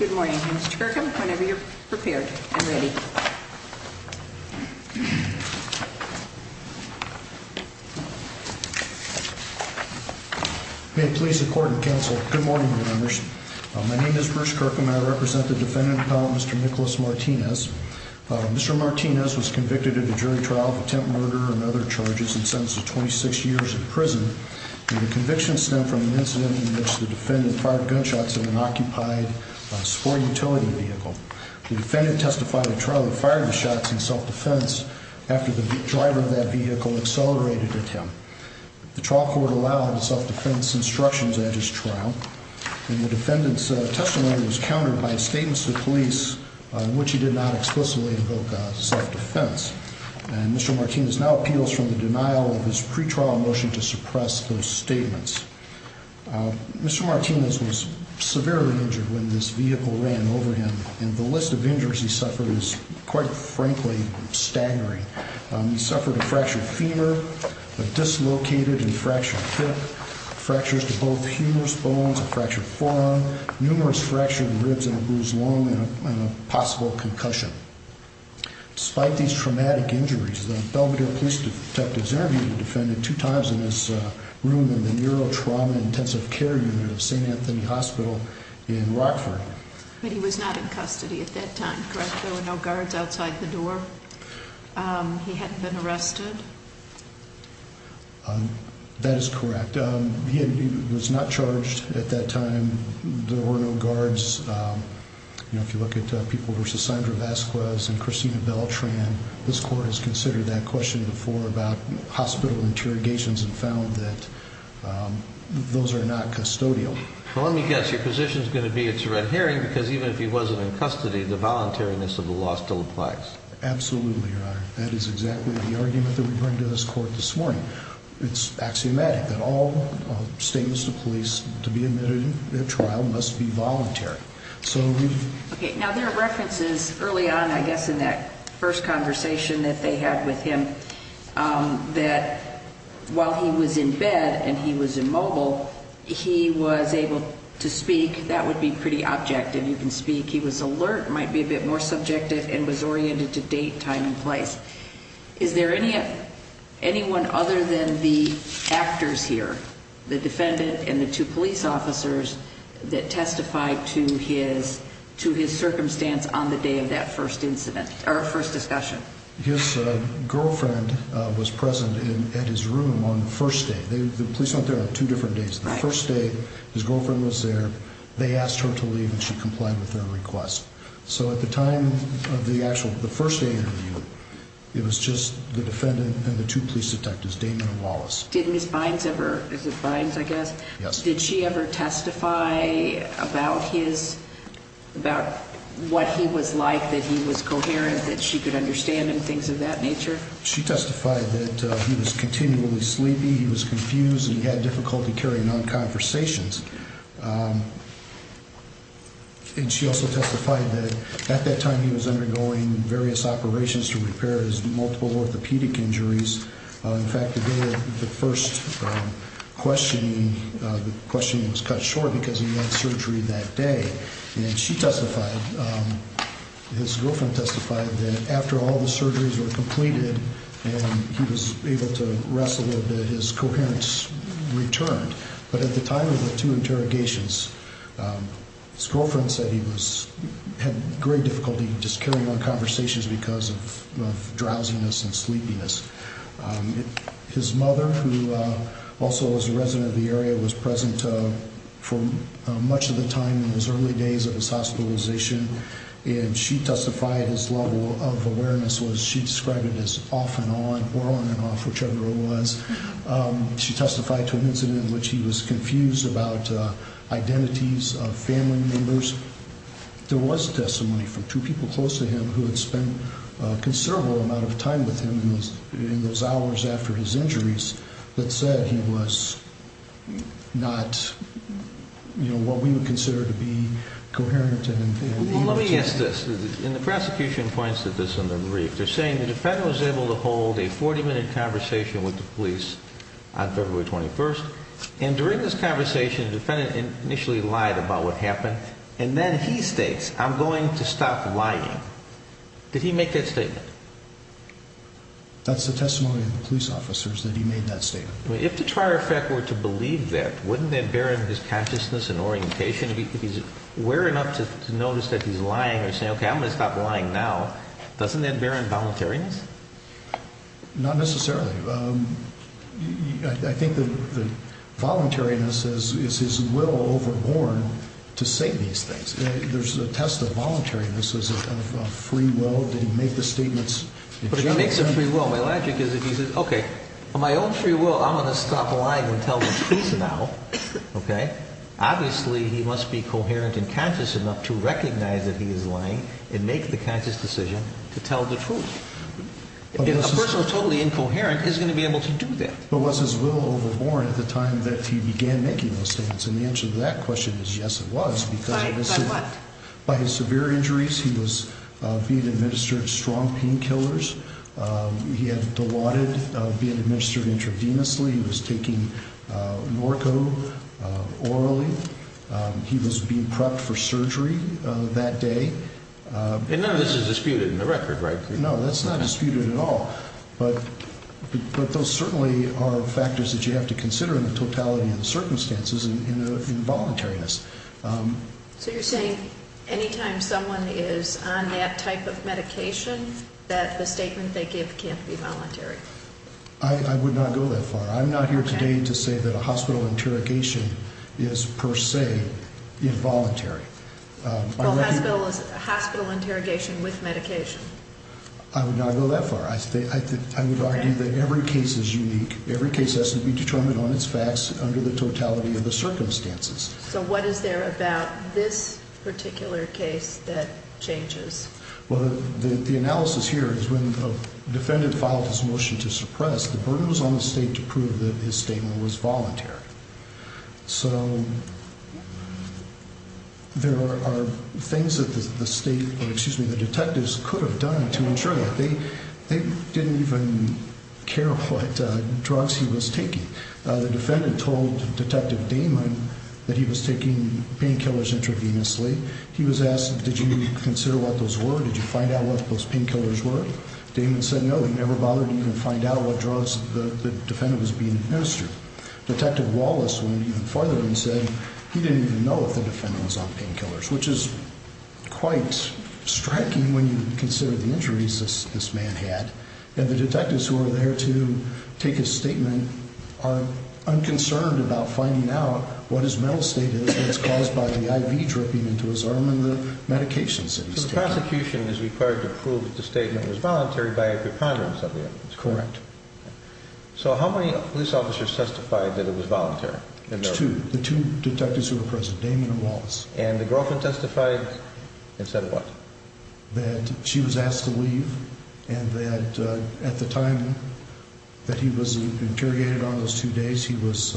Good morning, Mr Kirkham. Whenever you're prepared and ready. Good morning, Your Honor. My name is Bruce Kirkham. I represent the defendant, Mr. Nicholas Martinez. Mr. Martinez was convicted of a jury trial of attempt murder and other charges and sentenced to 26 years in prison. The conviction stemmed from an incident in which the defendant fired gunshots in an occupied SFOR utility vehicle. The defendant testified at trial that he fired the shots in self-defense after the driver of that vehicle accelerated at him. The trial court allowed self-defense instructions at his trial, and the defendant's testimony was countered by a statement to the police in which he did not explicitly invoke self-defense. And Mr. Martinez now appeals from the denial of his pre-trial motion to suppress those statements. Mr. Martinez was severely injured when this vehicle ran over him, and the list of injuries he suffered is, quite frankly, staggering. He suffered a fractured femur, a dislocated and fractured hip, fractures to both humerus bones, a fractured forearm, numerous fractured ribs and a bruised lung, and a possible concussion. Despite these traumatic injuries, the Belvedere Police Detectives interviewed the defendant two times in this room in the Neurotrauma Intensive Care Unit of St. Anthony Hospital in Rockford. But he was not in custody at that time, correct? There were no guards outside the door? He hadn't been arrested? That is correct. He was not charged at that time. There were no guards. You know, if you look at people versus Sandra Vasquez and Christina Beltran, this court has considered that question before about hospital interrogations and found that those are not custodial. Well, let me guess. Your position is going to be it's a red herring, because even if he wasn't in custody, the voluntariness of the law still applies. Absolutely, Your Honor. That is exactly the argument that we bring to this court this morning. It's axiomatic that all statements to police to be admitted in a trial must be voluntary. Okay, now there are references early on, I guess, in that first conversation that they had with him, that while he was in bed and he was immobile, he was able to speak. That would be pretty objective. You can speak. He was alert, might be a bit more subjective, and was oriented to date, time, and place. Is there anyone other than the actors here, the defendant and the two police officers that testified to his circumstance on the day of that first incident or first discussion? His girlfriend was present at his room on the first day. The police aren't there on two different days. The first day, his girlfriend was there. They asked her to leave, and she complied with their request. So at the time of the actual, the first day interview, it was just the defendant and the two police detectives, Damon and Wallace. Did Ms. Bynes ever, is it Bynes, I guess? Yes. Did she ever testify about his, about what he was like, that he was coherent, that she could understand and things of that nature? She testified that he was continually sleepy, he was confused, and he had difficulty carrying on conversations. And she also testified that at that time, he was undergoing various operations to repair his multiple orthopedic injuries. In fact, the day of the first questioning, the questioning was cut short because he had surgery that day. And she testified, his girlfriend testified, that after all the surgeries were completed and he was able to rest a little bit, his coherence returned. But at the time of the two interrogations, his girlfriend said he was, had great difficulty just carrying on conversations because of drowsiness and sleepiness. His mother, who also was a resident of the area, was present for much of the time in his early days of his hospitalization. And she testified his level of awareness was, she described it as off and on, or on and off, whichever it was. She testified to an incident in which he was confused about identities of family members. There was testimony from two people close to him who had spent a considerable amount of time with him in those hours after his injuries that said he was not, you know, what we would consider to be coherent and able to- Well, let me ask this. And the prosecution points to this in the brief. They're saying the defendant was able to hold a 40-minute conversation with the police on February 21st. And during this conversation, the defendant initially lied about what happened. And then he states, I'm going to stop lying. Did he make that statement? That's the testimony of the police officers that he made that statement. If the trier effect were to believe that, wouldn't that bear in his consciousness and orientation? If he's aware enough to notice that he's lying or saying, okay, I'm going to stop lying now, doesn't that bear in voluntariness? Not necessarily. I think the voluntariness is his will overborn to say these things. There's a test of voluntariness, of free will. Did he make the statements? But if he makes a free will, my logic is if he says, okay, on my own free will, I'm going to stop lying and tell the truth now. Okay. Obviously he must be coherent and conscious enough to recognize that he is lying and make the conscious decision to tell the truth. A person who's totally incoherent is going to be able to do that. Was his will overborn at the time that he began making those statements? And the answer to that question is yes, it was. By what? By his severe injuries. He was being administered strong painkillers. He had blotted being administered intravenously. He was taking Norco orally. He was being prepped for surgery that day. And none of this is disputed in the record, right? No, that's not disputed at all. But those certainly are factors that you have to consider in the totality of the circumstances in voluntariness. So you're saying anytime someone is on that type of medication, that the statement they give can't be voluntary? I would not go that far. I'm not here today to say that a hospital interrogation is per se involuntary. Hospital interrogation with medication? I would not go that far. I would argue that every case is unique. Every case has to be determined on its facts under the totality of the circumstances. So what is there about this particular case that changes? Well, the analysis here is when the defendant filed his motion to suppress, the burden was on the state to prove that his statement was voluntary. So there are things that the state, or excuse me, the detectives could have done to ensure that. They didn't even care what drugs he was taking. The defendant told Detective Damon that he was taking painkillers intravenously. He was asked, did you consider what those were? Did you find out what those painkillers were? Damon said, no, he never bothered to even find out what drugs the defendant was being administered. Detective Wallace went even farther and said he didn't even know if the defendant was on painkillers, which is quite striking when you consider the injuries this man had. And the detectives who are there to take his statement are unconcerned about finding out what his mental state is, and it's caused by the IV dripping into his arm and the medications that he's taking. So the prosecution is required to prove that the statement was voluntary by a So how many police officers testified that it was voluntary? There's two, the two detectives who were present, Damon and Wallace. And the girlfriend testified and said what? That she was asked to leave and that at the time that he was interrogated on those two days he was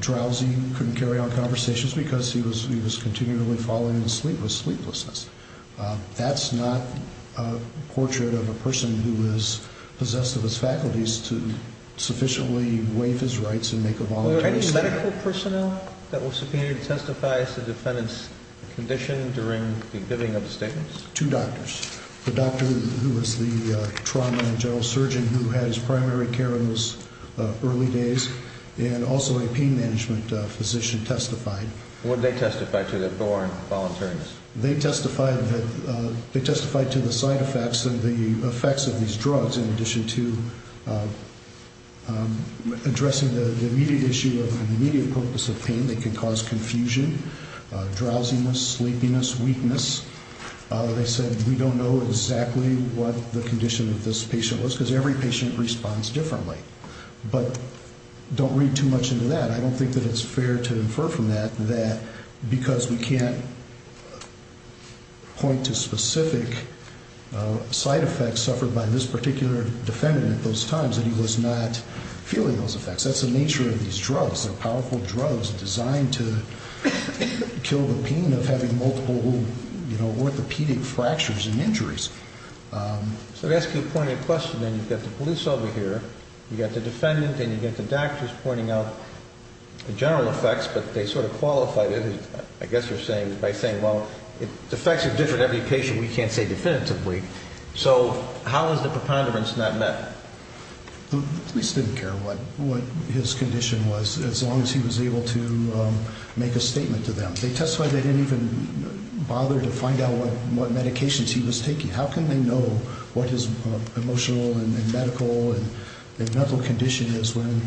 drowsy, couldn't carry on conversations because he was he was continually falling asleep with sleeplessness. That's not a portrait of a person who is possessed of his faculties to sufficiently waive his rights and make a voluntary statement. Were there any medical personnel that were subpoenaed to testify as the defendant's condition during the giving of the statements? Two doctors, the doctor who was the trauma and general surgeon who had his primary care in those early days and also a pain management physician testified. Would they testify to the thorn voluntariness? They testified that they testified to the side effects and the effects of these drugs in addition to addressing the immediate issue of an immediate purpose of pain that could cause confusion, drowsiness, sleepiness, weakness. They said we don't know exactly what the condition of this patient was because every patient responds differently. But don't read too much into that. I don't think that it's fair to infer from that that because we can't point to specific side effects suffered by this particular defendant at those times that he was not feeling those effects. That's the nature of these drugs. They're powerful drugs designed to kill the pain of having multiple, you know, orthopedic fractures and injuries. So to ask you a pointed question then you've got the police over here, you've got the defendant and you've got the doctors pointing out the general effects, but they sort of qualified it, I guess you're saying, by saying, well, if the effects are different every patient, we can't say definitively. So how is the preponderance not met? Police didn't care what his condition was as long as he was able to make a statement to them. They testified they didn't even bother to find out what medications he was taking. How can they know what his emotional and medical and mental condition is when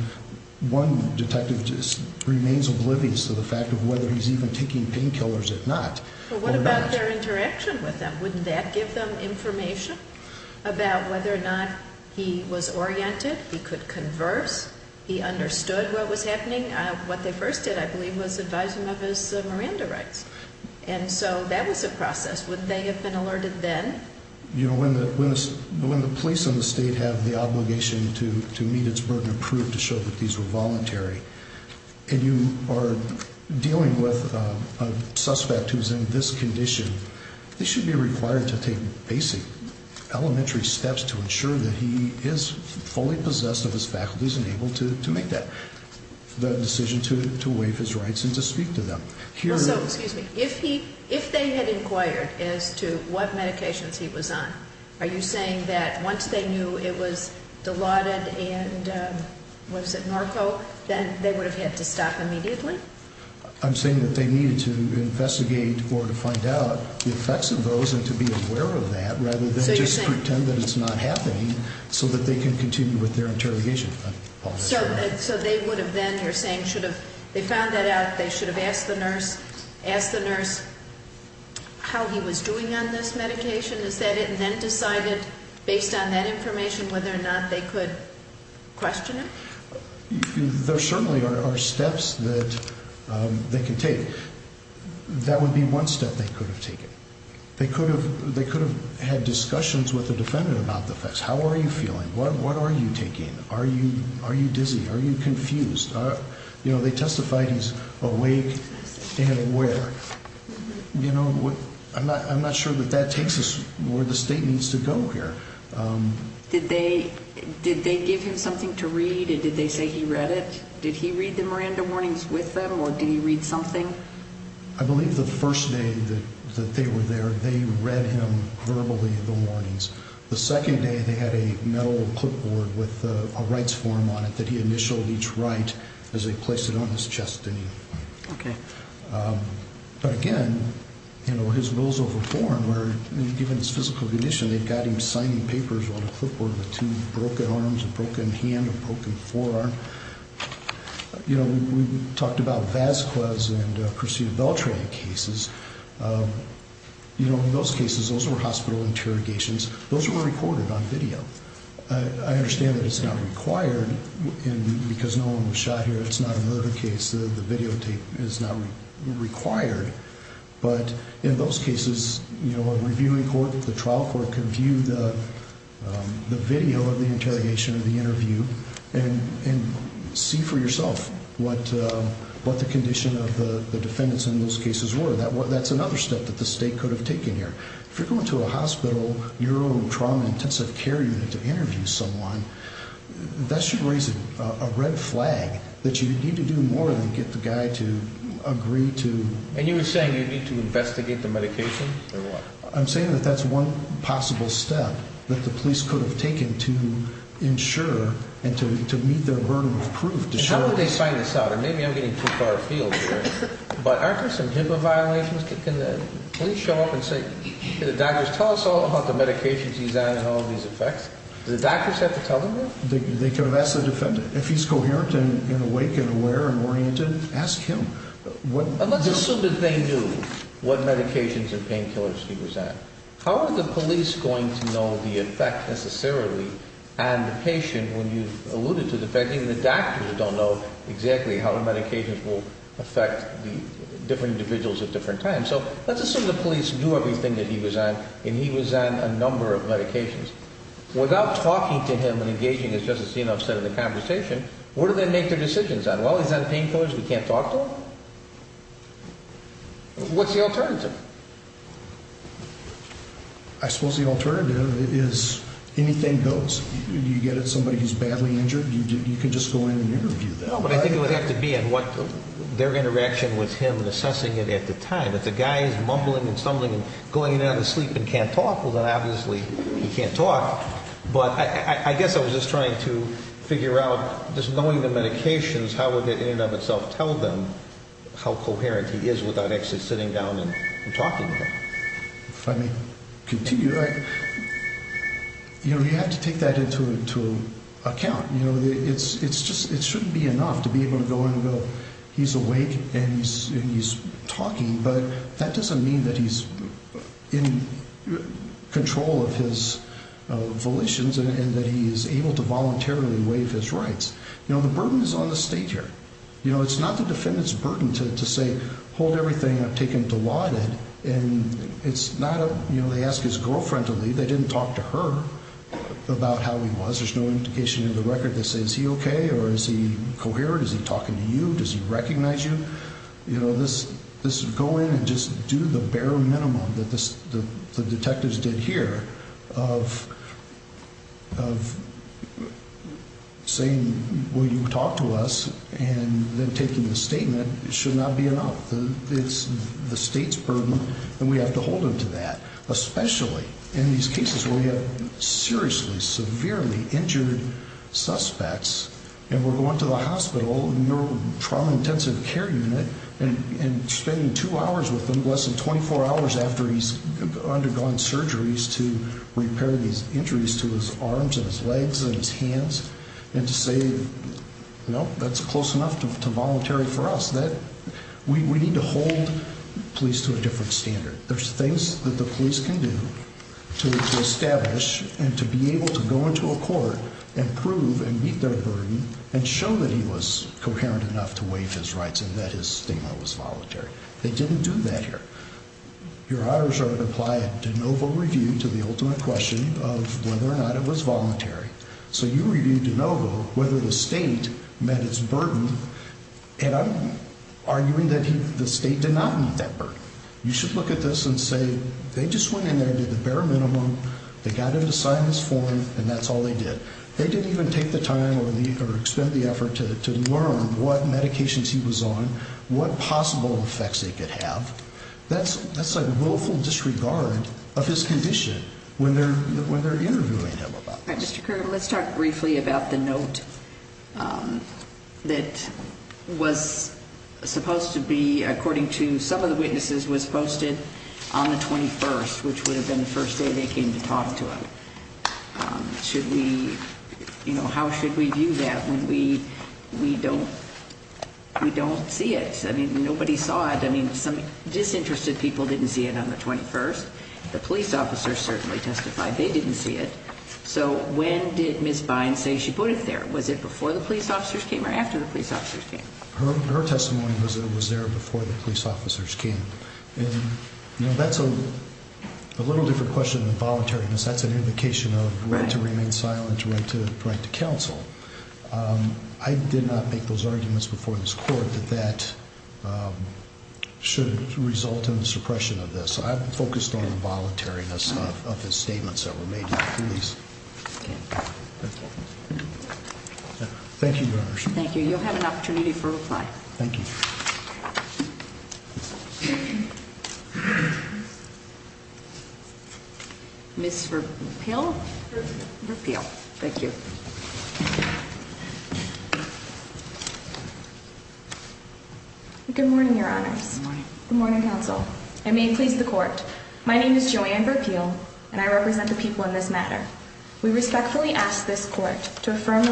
one detective just remains oblivious to the fact of whether he's even taking painkillers or not? But what about their interaction with them? Wouldn't that give them information about whether or not he was oriented, he could converse, he understood what was happening? What they first did, I believe, was advise him of his Miranda rights. And so that was a process. Would they have been alerted then? You know, when the police and the state have the obligation to meet its burden of proof to show that these were voluntary, and you are dealing with a suspect who's in this condition, they should be required to take basic elementary steps to ensure that he is fully possessed of his faculties and able to make that decision to waive his rights and to speak to them. So, excuse me, if they had inquired as to what medications he was on, are you saying that once they knew it was Dilaudid and, what is it, Norco, then they would have had to stop immediately? I'm saying that they needed to investigate or to find out the effects of those and to be aware of that rather than just pretend that it's not happening so that they can continue with their interrogation. So they would have been, you're saying, should have, they found that out, they should have asked the nurse, asked the nurse how he was doing on this medication, is that it, and then decided, based on that information, whether or not they could question it? There certainly are steps that they can take. That would be one step they could have taken. They could have had discussions with the defendant about the effects. How are you feeling? What are you taking? Are you dizzy? Are you confused? They testified he's awake and aware. I'm not sure that that takes us where the state needs to go here. Did they give him something to read? Did they say he read it? Did he read the Miranda warnings with them or did he read something? I believe the first day that they were there, they read him verbally the warnings. The second day they had a metal clipboard with a rights form on it that he initialed each right as they placed it on his chest. But again, you know, his rules of reform were, given his physical condition, they got him signing papers on a clipboard with two broken arms, a broken hand, a broken forearm. You know, we talked about Vasquez and Christina Beltran cases. You know, in those cases, those were hospital interrogations. Those were recorded on video. I understand that it's not required because no one was shot here. It's not a murder case. The videotape is not required. But in those cases, you know, a reviewing court, the trial court, can view the video of the interrogation of the interview and see for yourself what the condition of the defendants in those cases were. That's another step that the state could have taken here. If you're going to a hospital, your own trauma intensive care unit to interview someone, that should raise a red flag that you need to do more than get the guy to agree to... And you were saying you need to investigate the medication or what? I'm saying that that's one possible step that the police could have taken to ensure and to meet their burden of proof. How would they sign this out? And maybe I'm getting too far afield here, but aren't there some HIPAA violations? Can the police show up and say, the doctors tell us all about the medications he's on and all of these effects? Do the doctors have to tell them that? They can ask the defendant. If he's coherent and awake and aware and oriented, ask him. And let's assume that they knew what medications and painkillers he was on. How are the police going to know the effect necessarily? And the patient, when you affect the different individuals at different times. So let's assume the police knew everything that he was on and he was on a number of medications. Without talking to him and engaging as Justice Senoff said in the conversation, what do they make their decisions on? Well, he's on painkillers, we can't talk to him? What's the alternative? I suppose the alternative is anything goes. You get somebody who's badly injured, you can just go in and interview them. No, but I think it would have to be on what their interaction with him and assessing it at the time. If the guy is mumbling and stumbling and going in and out of sleep and can't talk, well then obviously he can't talk. But I guess I was just trying to figure out, just knowing the medications, how would that in and of itself tell them how coherent he is without actually sitting down and talking to him? If I may continue, you have to take that into account. It shouldn't be enough to be able to go in and go, he's awake and he's talking, but that doesn't mean that he's in control of his volitions and that he is able to voluntarily waive his rights. The burden is on the state here. It's not the defendant's and it's not a, you know, they ask his girlfriend to leave. They didn't talk to her about how he was. There's no indication in the record that says he okay, or is he coherent? Is he talking to you? Does he recognize you? You know, this, this would go in and just do the bare minimum that this, the detectives did here of, of saying, will you talk to us? And then taking the statement, it should not be enough. It's the state's burden and we have to hold him to that, especially in these cases where we have seriously, severely injured suspects. And we're going to the hospital and your trauma intensive care unit and spending two hours with them, less than 24 hours after he's undergone surgeries to repair these injuries to his arms and his legs and his hands. And to say, nope, that's close enough to voluntary for us that we need to hold police to a different standard. There's things that the police can do to establish and to be able to go into a court and prove and meet their burden and show that he was coherent enough to waive his rights and that his stigma was voluntary. They didn't do that here. Your honors are to apply a de novo review to the ultimate question of whether or not it was voluntary. So you reviewed de novo, whether the state met its burden. And I'm arguing that he, the state did not meet that burden. You should look at this and say, they just went in there and did the bare minimum. They got him to sign this form and that's all they did. They didn't even take the time or the, or expend the effort to, to learn what medications he was on, what possible effects they could have. That's, that's like willful disregard of his condition when they're, when they're interviewing him about it. Mr. Kerr, let's talk briefly about the note that was supposed to be, according to some of the witnesses was posted on the 21st, which would have been the first day they came to talk to him. Should we, you know, how should we do that when we, we don't, we don't see it. I mean, nobody saw it. I mean, some disinterested people didn't see it on the 21st. The police officers certainly testified they didn't see it. So when did Ms. Bynes say she put it there? Was it before the police officers came or after the police officers came? Her testimony was, it was there before the police officers came. And that's a little different question than the voluntariness. That's an indication of to remain silent, to write to counsel. I did not make those arguments before this court that that should result in the suppression of this. I'm focused on the voluntariness of his statements that were made to the police. Thank you, Your Honor. Thank you. You'll have an opportunity for reply. Thank you. Ms. Verpeil? Verpeil. Thank you. Good morning, Your Honors. Good morning, counsel. I may please the court. My name is Joanne Verpeil and I represent the people in this matter. We respectfully ask this court to affirm the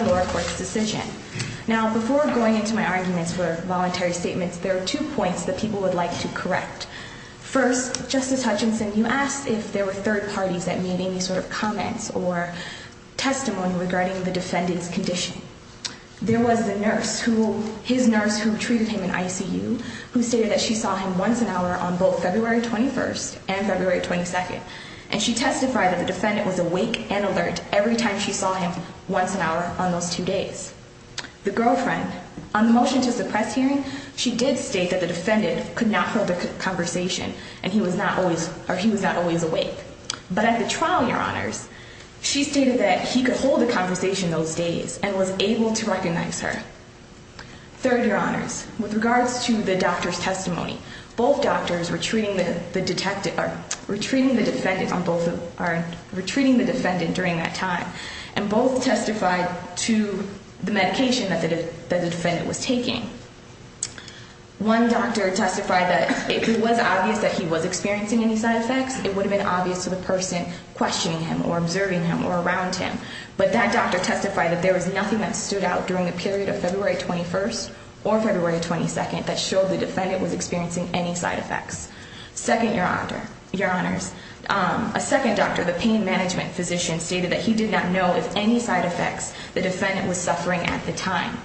two points that people would like to correct. First, Justice Hutchinson, you asked if there were third parties that made any sort of comments or testimony regarding the defendant's condition. There was the nurse who, his nurse who treated him in ICU, who stated that she saw him once an hour on both February 21st and February 22nd. And she testified that the defendant was awake and alert every time she saw him once an hour on those two days. The girlfriend, on the motion to suppress hearing, she did state that the defendant could not hold a conversation and he was not always awake. But at the trial, Your Honors, she stated that he could hold a conversation those days and was able to recognize her. Third, Your Honors, with regards to the doctor's testimony, both doctors were treating the defendant during that time and both testified to the medication that the defendant was taking. One doctor testified that if it was obvious that he was experiencing any side effects, it would have been obvious to the person questioning him or observing him or around him. But that doctor testified that there was nothing that stood out during the period of February 21st or February 22nd that showed the defendant was experiencing any side effects. Second, Your Honors, a second doctor, the pain management physician, stated that he did not know if any side effects the defendant was suffering at the time.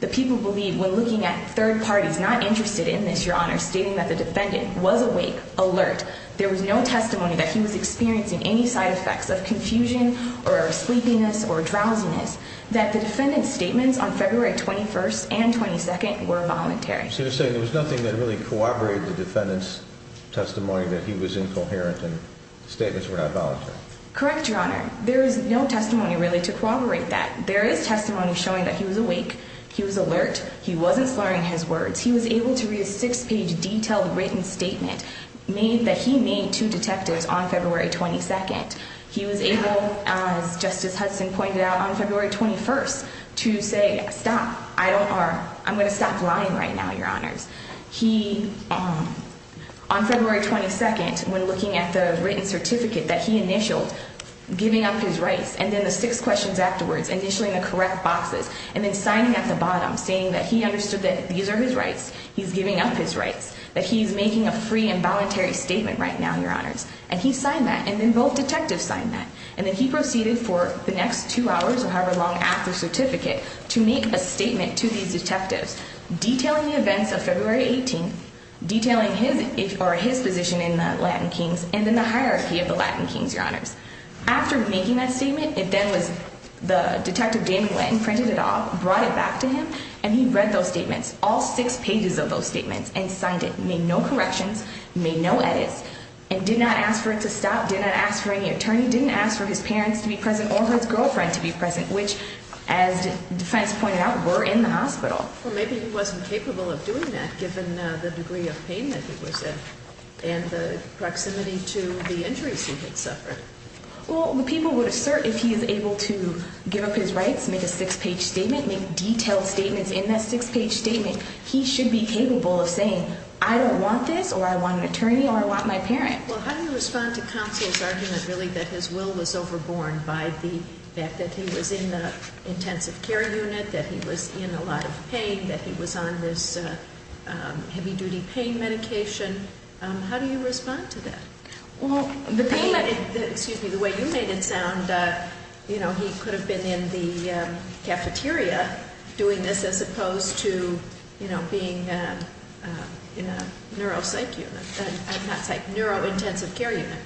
The people believe, when looking at third parties not interested in this, Your Honors, stating that the defendant was awake, alert, there was no testimony that he was experiencing any side effects of confusion or sleepiness or drowsiness, that the defendant's statements on February 21st and 22nd were voluntary. So you're saying there was nothing that really corroborated the defendant's testimony that he was incoherent and statements were not voluntary? Correct, Your Honor, there is no testimony really to corroborate that. There is testimony showing that he was awake, he was alert, he wasn't slurring his words, he was able to read a six-page detailed written statement made that he made to detectives on February 22nd. He was able, as Justice Hudson pointed out, on February 22nd, when looking at the written certificate that he initialed, giving up his rights, and then the six questions afterwards, initialing the correct boxes, and then signing at the bottom, saying that he understood that these are his rights, he's giving up his rights, that he's making a free and voluntary statement right now, Your Honors, and he signed that, and then both detectives signed that, and then he proceeded for the next two hours or however long after certificate to make a statement to these detectives, detailing the events of February 18th, detailing his or his position in the Latin Kings, and then the hierarchy of the Latin Kings, Your Honors. After making that statement, it then was the detective Damien Witt printed it off, brought it back to him, and he read those statements, all six pages of those statements, and signed it, made no corrections, made no edits, and did not ask for it to stop, did not ask for any attorney, didn't ask for his parents to be present, or his girlfriend to be present, which as defense pointed out, were in the hospital. Well, maybe he wasn't capable of doing that, given the degree of pain that he was in, and the proximity to the injuries he had suffered. Well, the people would assert if he is able to give up his rights, make a six-page statement, make detailed statements in that six-page statement, he should be capable of saying, I don't want this, or I want an attorney, or I want my parent. Well, how do you respond to counsel's argument, really, that his will was overborne by the fact that he was in the intensive care unit, that he was in a lot of pain, that he was on this heavy-duty pain medication? How do you respond to that? Well, the pain that, excuse me, the way you made it sound, you know, he could have been in the cafeteria doing this, as opposed to, you know, being in a neuropsych unit, not psych, neurointensive care unit.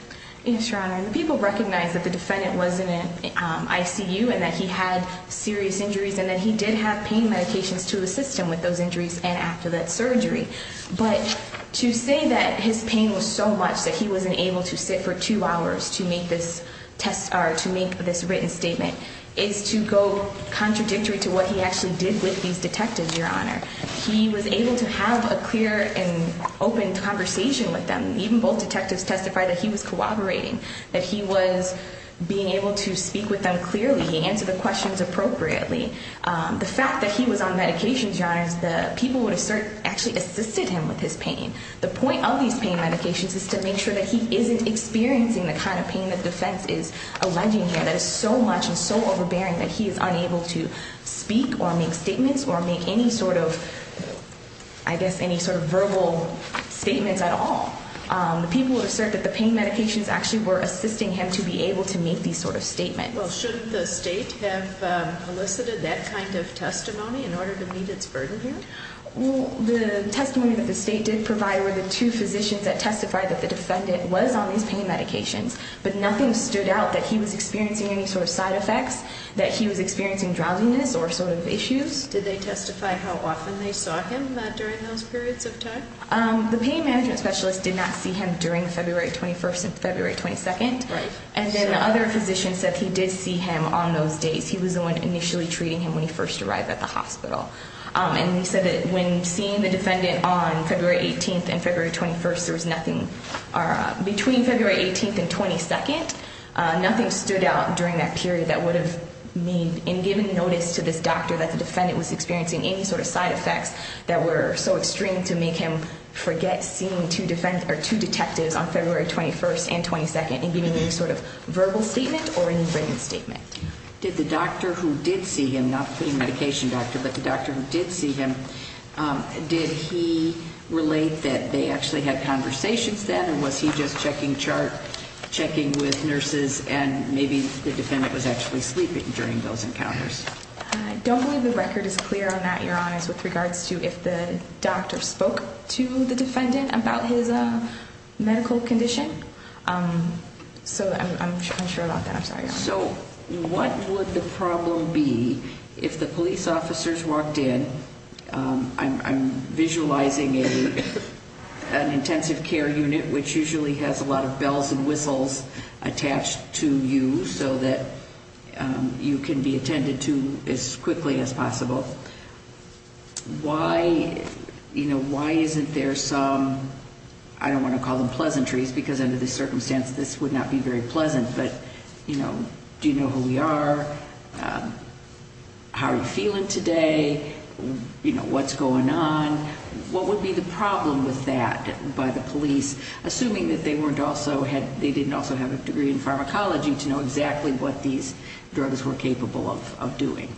Yes, Your Honor, and the people recognized that the defendant was in an ICU, and that he had serious injuries, and that he did have pain medications to assist him with those injuries, and after that surgery. But to say that his pain was so much that he wasn't able to sit for two hours to make this written statement is to go contradictory to what he actually did with these detectives, Your Honor. He was able to have a clear and open conversation with them. Even both detectives testified that he was cooperating, that he was being able to speak with them clearly. He answered the questions appropriately. The fact that he was on medications, Your Honor, is the people would assert actually assisted him with his pain. The point of these pain medications is to make sure that he isn't experiencing the kind of pain that defense is alleging here that is so much and so overbearing that he is unable to speak or make statements or make any sort of, I guess, any sort of verbal statements at all. The people would assert that the pain medications actually were assisting him to be able to make these sort of statements. Well, shouldn't the state have elicited that kind of testimony in order to meet its burden here? Well, the testimony that the state did provide were the two physicians that testified that the defendant was on these pain medications, but nothing stood out that he was experiencing any sort of side effects, that he was experiencing drowsiness or sort of issues. Did they testify how often they saw him during those periods of time? The pain management specialist did not see him during February 21st and February 22nd. And then other physicians said he did see him on those days. He was the one initially treating him when he first arrived at the hospital. And he said that when seeing the defendant on February 18th and February 21st, there was nothing, between February 18th and 22nd, nothing stood out during that period that would have made, in giving notice to this doctor that the defendant was experiencing any sort of side that were so extreme to make him forget seeing two detectives on February 21st and 22nd, in giving any sort of verbal statement or any written statement. Did the doctor who did see him, not the pain medication doctor, but the doctor who did see him, did he relate that they actually had conversations then, or was he just checking chart, checking with nurses, and maybe the defendant was actually sleeping during those encounters? I don't believe the record is clear on that, Your Honor, with regards to if the doctor spoke to the defendant about his medical condition. So I'm unsure about that. I'm sorry, Your Honor. So what would the problem be if the police officers walked in? I'm visualizing an intensive care unit, which usually has a lot of Why, you know, why isn't there some, I don't want to call them pleasantries, because under the circumstance, this would not be very pleasant. But, you know, do you know who we are? How are you feeling today? You know, what's going on? What would be the problem with that by the police, assuming that they weren't also had, they didn't also have a degree in pharmacology to know exactly what these drugs were capable of doing?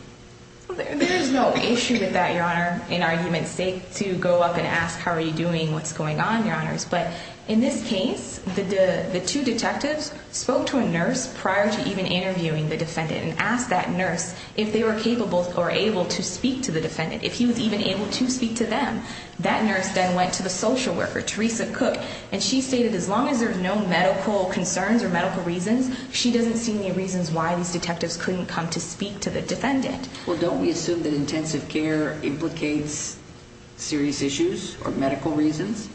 There's no issue with that, Your Honor, in argument's sake to go up and ask, how are you doing? What's going on, Your Honors? But in this case, the two detectives spoke to a nurse prior to even interviewing the defendant and asked that nurse if they were capable or able to speak to the defendant, if he was even able to speak to them. That nurse then went to the social worker, Teresa Cook, and she stated as long as there's no medical concerns or medical reasons, she doesn't see any reasons why these detectives couldn't come to speak to the defendant. Well, don't we assume that intensive care implicates serious issues or medical reasons?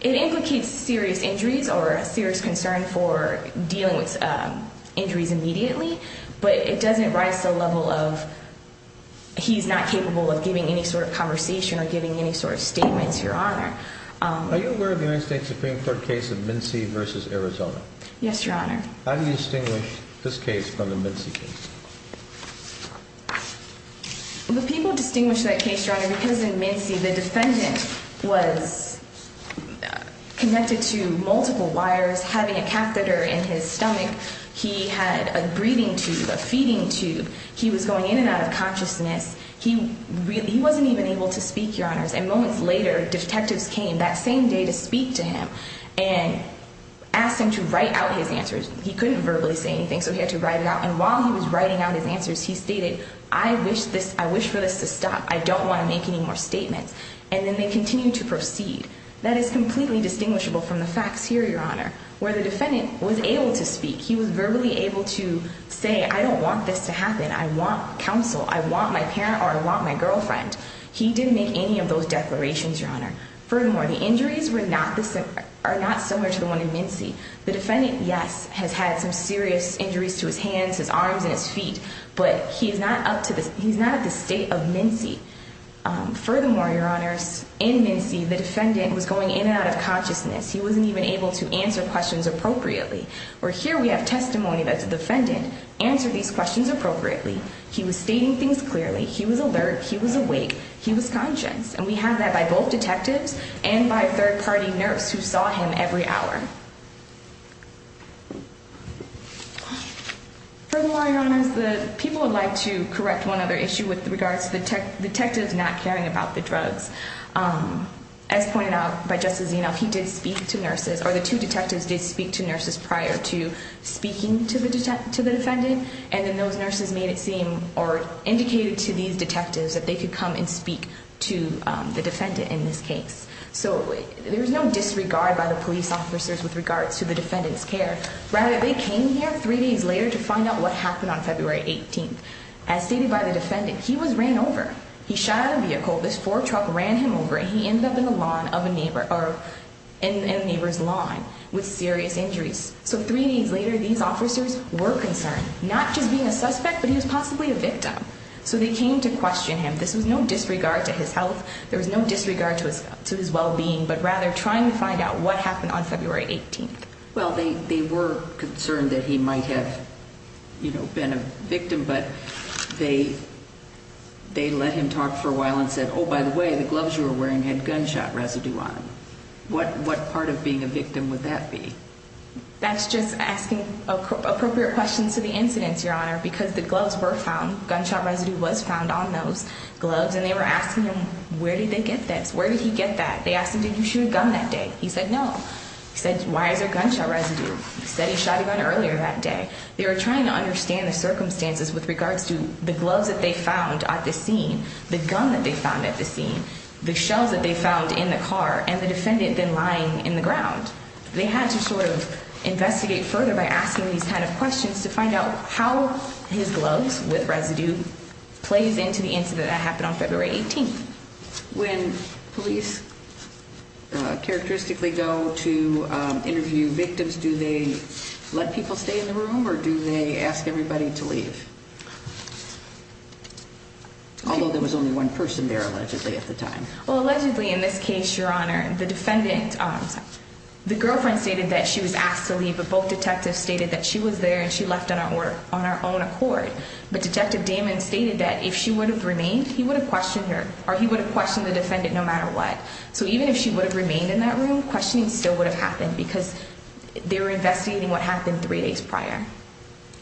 It implicates serious injuries or a serious concern for dealing with injuries immediately, but it doesn't rise to the level of he's not capable of giving any sort of conversation or giving any sort of statements, Your Honor. Are you aware of the United States Supreme Court case of MnC versus Arizona? Yes, Your Honor. How do you distinguish this case from the MnC case? The people distinguish that case, Your Honor, because in MnC, the defendant was connected to multiple wires, having a catheter in his stomach. He had a breathing tube, a feeding tube. He was going in and out of consciousness. He really wasn't even able to speak, Your Honors, and moments later, detectives came that same day to speak to him and asked him to write out his answers. He couldn't verbally say anything, so he had to write it out, and while he was writing out his answers, he stated, I wish for this to stop. I don't want to make any more statements, and then they continued to proceed. That is completely distinguishable from the facts here, Your Honor, where the defendant was able to speak. He was verbally able to say, I don't want this to stop. I don't want to make any more statements. I don't want to make any more verbal declarations, Your Honor. Furthermore, the injuries are not similar to the one in MnC. The defendant, yes, has had some serious injuries to his hands, his arms, and his feet, but he's not at the state of MnC. Furthermore, Your Honors, in MnC, the defendant was going in and out of consciousness. He wasn't even able to answer questions appropriately, where here we have testimony that the both detectives and by third-party nurse who saw him every hour. Furthermore, Your Honors, the people would like to correct one other issue with regards to the detectives not caring about the drugs. As pointed out by Justice Zeno, he did speak to nurses, or the two detectives did speak to nurses prior to speaking to the defendant, and then those nurses made it seem or indicated to these detectives that they could come and speak to the defendant in this case. So there was no disregard by the police officers with regards to the defendant's care. Rather, they came here three days later to find out what happened on February 18th. As stated by the defendant, he was ran over. He shot out of a vehicle. This four-truck ran him over, and he ended up in the lawn of a neighbor or in a neighbor's lawn with serious injuries. So three days later, these officers were concerned, not just being a suspect, but he was possibly a victim. So they came to question him. This was no disregard to his health. There was no disregard to his well-being, but rather trying to find out what happened on February 18th. Well, they were concerned that he might have, you know, been a victim, but they let him talk for a while and said, oh, by the way, the gloves you were wearing had gunshot residue on them. What part of being a victim would that be? That's just asking appropriate questions to the incidents, Your Honor, because the gloves were found. Gunshot residue was found on those gloves, and they were asking him, where did they get this? Where did he get that? They asked him, did you shoot a gun that day? He said, no. He said, why is there gunshot residue? He said he shot him earlier that day. They were trying to understand the circumstances with regards to the gloves that they found at the scene, the gun that they found at the scene, the shells that they found in the car, and the gun in the ground. They had to sort of investigate further by asking these kind of questions to find out how his gloves with residue plays into the incident that happened on February 18th. When police characteristically go to interview victims, do they let people stay in the room, or do they ask everybody to leave? Although there was only one person there allegedly at the time. Well, allegedly in this case, Your Honor, the defendant, the girlfriend stated that she was asked to leave, but both detectives stated that she was there and she left on her own accord. But Detective Damon stated that if she would have remained, he would have questioned her, or he would have questioned the defendant no matter what. So even if she would have remained in that room, questioning still would have happened because they were investigating what happened three days prior.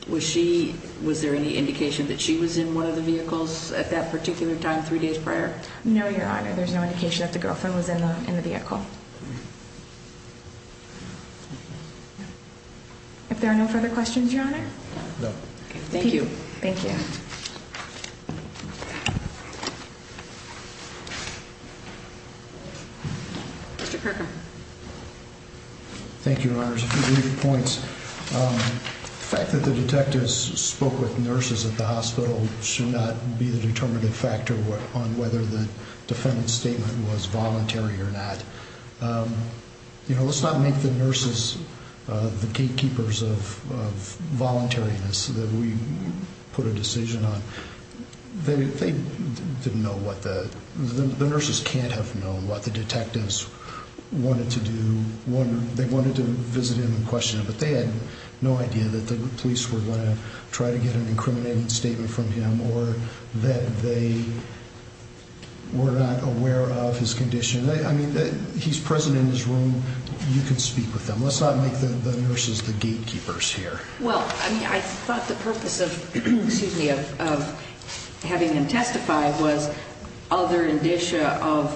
Was she, was there any indication that she was in one of the vehicles at that particular time, three days prior? No, Your Honor. There's no indication that the girlfriend was in the vehicle. If there are no further questions, Your Honor? No. Thank you. Thank you. Mr. Kirker. Thank you, Your Honor. A few brief points. The fact that the detectives spoke with nurses at the hospital should not be the determinative factor on whether the defendant's statement was voluntary or not. You know, let's not make the nurses the gatekeepers of voluntariness that we put a decision on. They didn't know what the, the nurses can't have known what the detectives wanted to do. They wanted to visit him and try to get an incriminating statement from him or that they were not aware of his condition. I mean, he's present in his room. You can speak with them. Let's not make the nurses the gatekeepers here. Well, I mean, I thought the purpose of having him testify was other indicia of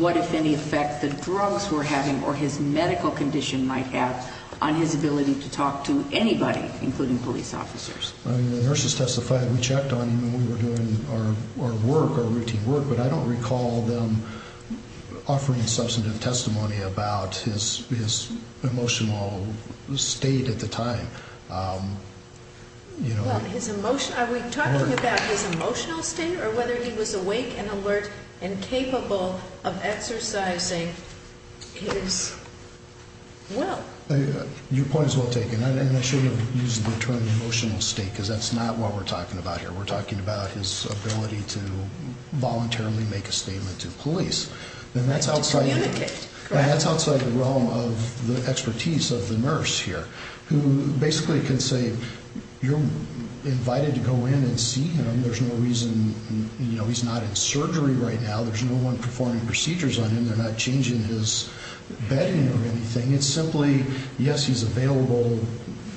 what, if any, effect the drugs were having or his medical condition might have on his ability to talk to anybody, including police officers. I mean, the nurses testified, we checked on him and we were doing our work, our routine work, but I don't recall them offering substantive testimony about his, his emotional state at the time. You know, his emotion, are we talking about his emotional state or whether he was awake and alert and capable of exercising his will? Your point is well taken. I shouldn't have used the term emotional state because that's not what we're talking about here. We're talking about his ability to voluntarily make a statement to police and that's outside the realm of the expertise of the nurse here who basically can say, you're invited to go in and see him. There's no reason, you know, he's not in surgery right now, there's no one performing procedures on him, they're not changing his bedding or anything. It's simply, yes, he's available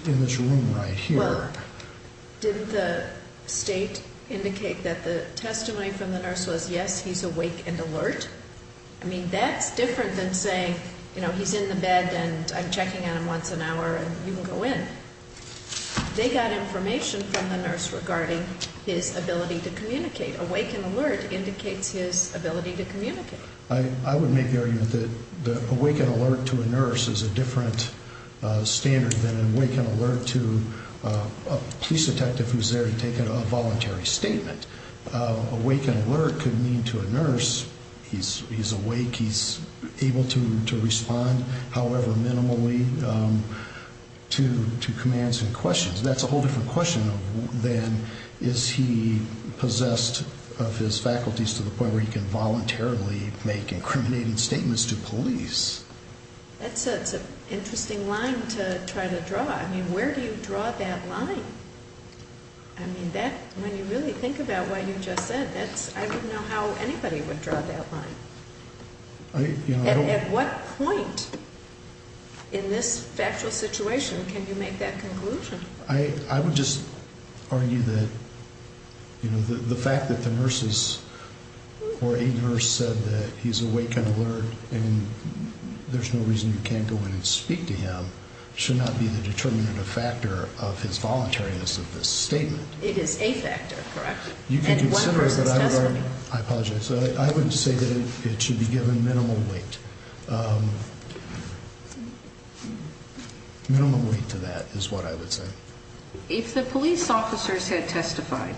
in this room right here. Well, didn't the state indicate that the testimony from the nurse was, yes, he's awake and alert? I mean, that's different than saying, you know, he's in the bed and I'm checking on him once an hour and you can go in. They got information from the nurse regarding his ability to communicate. Awake and alert indicates his ability to communicate. I would make the argument that awake and alert to a nurse is a different standard than awake and alert to a police detective who's there to take a voluntary statement. Awake and alert could mean to a nurse, he's awake, he's able to respond however minimally to commands and questions. That's a whole different question than is he possessed of his faculties to the point where he can voluntarily make incriminating statements to police. That's an interesting line to try to draw. I mean, where do you draw that line? I mean, that, when you really think about what you just said, that's, I don't know how anybody would draw that line. At what point in this factual situation can you make that conclusion? I would just argue that, you know, the fact that the nurses or a nurse said that he's awake and alert and there's no reason you can't go in and speak to him should not be the determinative factor of his voluntariness of this statement. It is a factor, correct? You can consider that I learned, I apologize, so I wouldn't say that it should be minimal weight. Minimal weight to that is what I would say. If the police officers had testified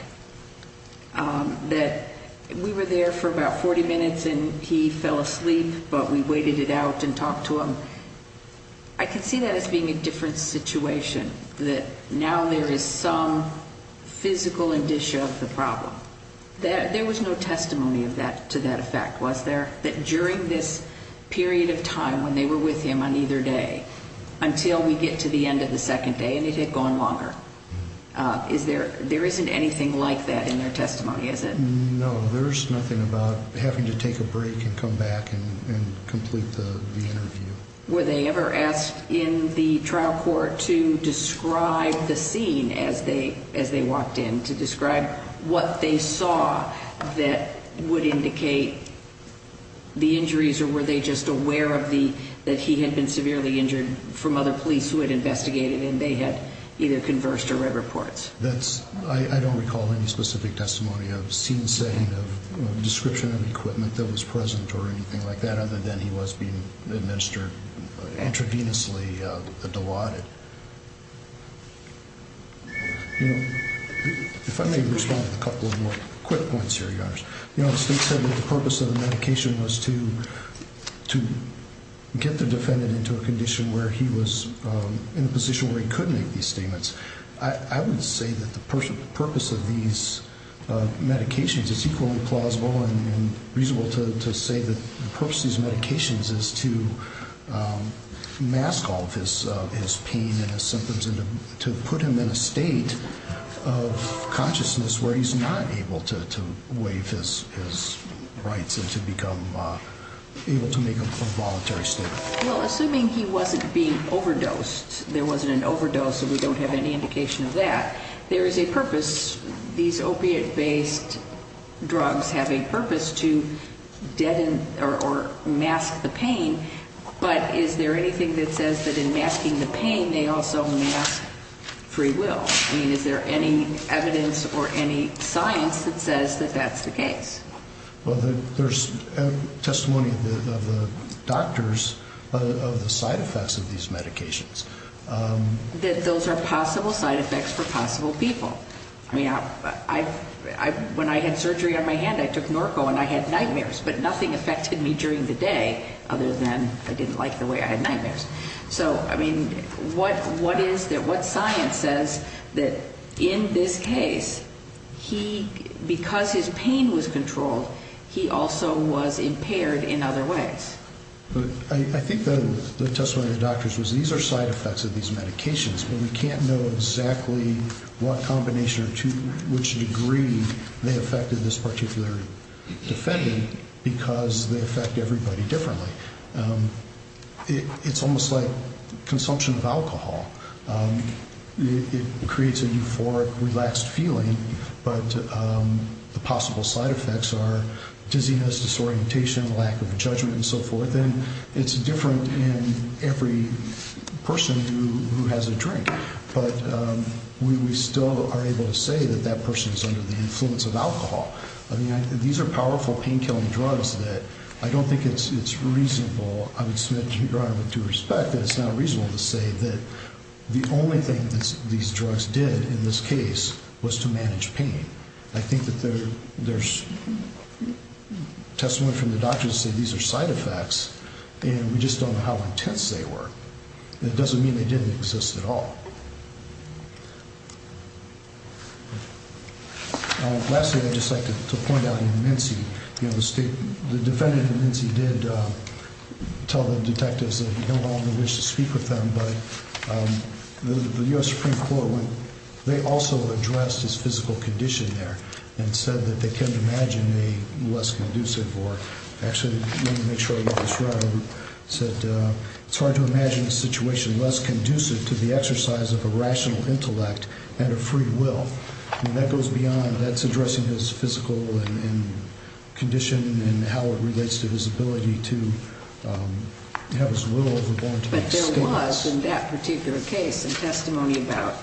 that we were there for about 40 minutes and he fell asleep, but we waited it out and talked to him, I could see that as being a different situation, that now there is some physical indicia of the problem. There was no testimony to that effect, was there? That during this period of time when they were with him on either day, until we get to the end of the second day and it had gone longer, there isn't anything like that in their testimony, is it? No, there's nothing about having to take a break and come back and complete the interview. Were they ever asked in the trial court to describe the scene as they walked in, to describe what they saw that would indicate the injuries or were they just aware that he had been severely injured from other police who had investigated and they had either conversed or read reports? I don't recall any specific testimony of scene setting, of description of equipment that was present or anything like that, other than he was being administered intravenously, diluted. If I may respond to a couple of more quick points here, Your Honor. The State said that the purpose of the medication was to get the defendant into a condition where he was in a position where he could make these statements. I would say that the purpose of these medications is equally plausible and reasonable to say that the purpose of these medications is to mask all of his pain and his symptoms and to put him in a state of consciousness where he's not able to waive his rights and to become able to make a voluntary statement. Well, assuming he wasn't being overdosed, there wasn't an overdose, so we don't have any indication of that, there is a purpose these opiate-based drugs have a purpose to deaden or mask the pain, but is there anything that says that in masking the pain they also mask free will? I mean, is there any evidence or any science that says that that's the case? Well, there's testimony of the doctors of the side effects of these medications. That those are possible side effects for possible people. I mean, when I had surgery on my hand, I took Norco and I had nightmares, but nothing affected me during the day other than I didn't like the way I had nightmares. So, I mean, what science says that in this case, because his pain was controlled, he also was impaired in other ways? I think the testimony of the doctors was these are side effects of these medications, but we can't know exactly what combination or to which degree they affected this particular defendant because they affect everybody differently. It's almost like consumption of alcohol. It creates a euphoric, relaxed feeling, but the possible side effects are dizziness, disorientation, lack of judgment, and so forth, and it's different in every person who has a drink, but we still are able to say that that person is under the influence of alcohol. I mean, these are powerful pain-killing drugs that I don't think it's reasonable. I would submit to your Honor with due respect that it's not reasonable to say that the only thing that these drugs did in this case was to manage pain. I think that there's a testimony from the doctors to say these are side effects, and we just don't know how intense they were. It doesn't mean they didn't exist at all. Lastly, I'd just like to point out in Mincy, you know, the state, the defendant in Mincy did tell the detectives that he held on the wish to speak with them, but the U.S. Supreme Court, they also addressed his physical condition there and said that they couldn't imagine a less conducive, or actually, let me make sure I got this right, said it's hard to imagine a situation less conducive to the exercise of a rational intellect and a free will. I mean, that goes beyond, that's addressing his physical condition and how it relates to his ability to have his will overborne to be extinguished. But there was, in that particular case, some testimony about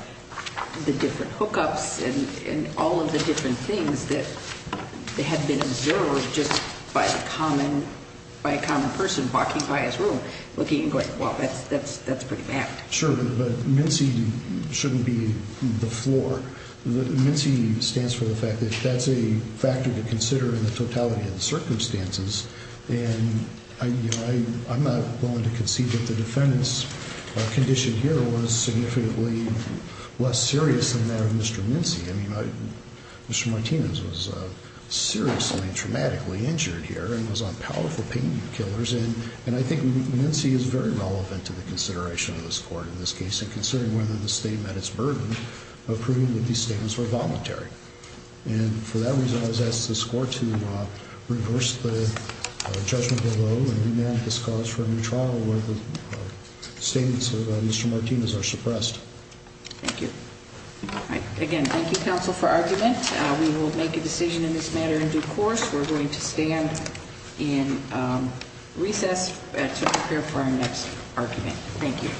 the different hookups and all the different things that had been observed just by a common person walking by his room, looking and going, well, that's pretty bad. Sure, but Mincy shouldn't be the floor. Mincy stands for the fact that that's a factor to consider in the totality of the circumstances, and I'm not willing to concede that the defendant's condition here was significantly less serious than that of Mr. Mincy. I mean, Mr. Martinez was seriously and traumatically injured here and was on powerful pain killers, and I think Mincy is very relevant to the consideration of this Court in this case, and considering whether the state met its burden of proving that these statements were voluntary. And for that reason, I was asked this Court to reverse the judgment below and remand this cause for a new trial where the Thank you. All right. Again, thank you, counsel, for argument. We will make a decision in this matter in due course. We're going to stand in recess to prepare for our next argument. Thank you.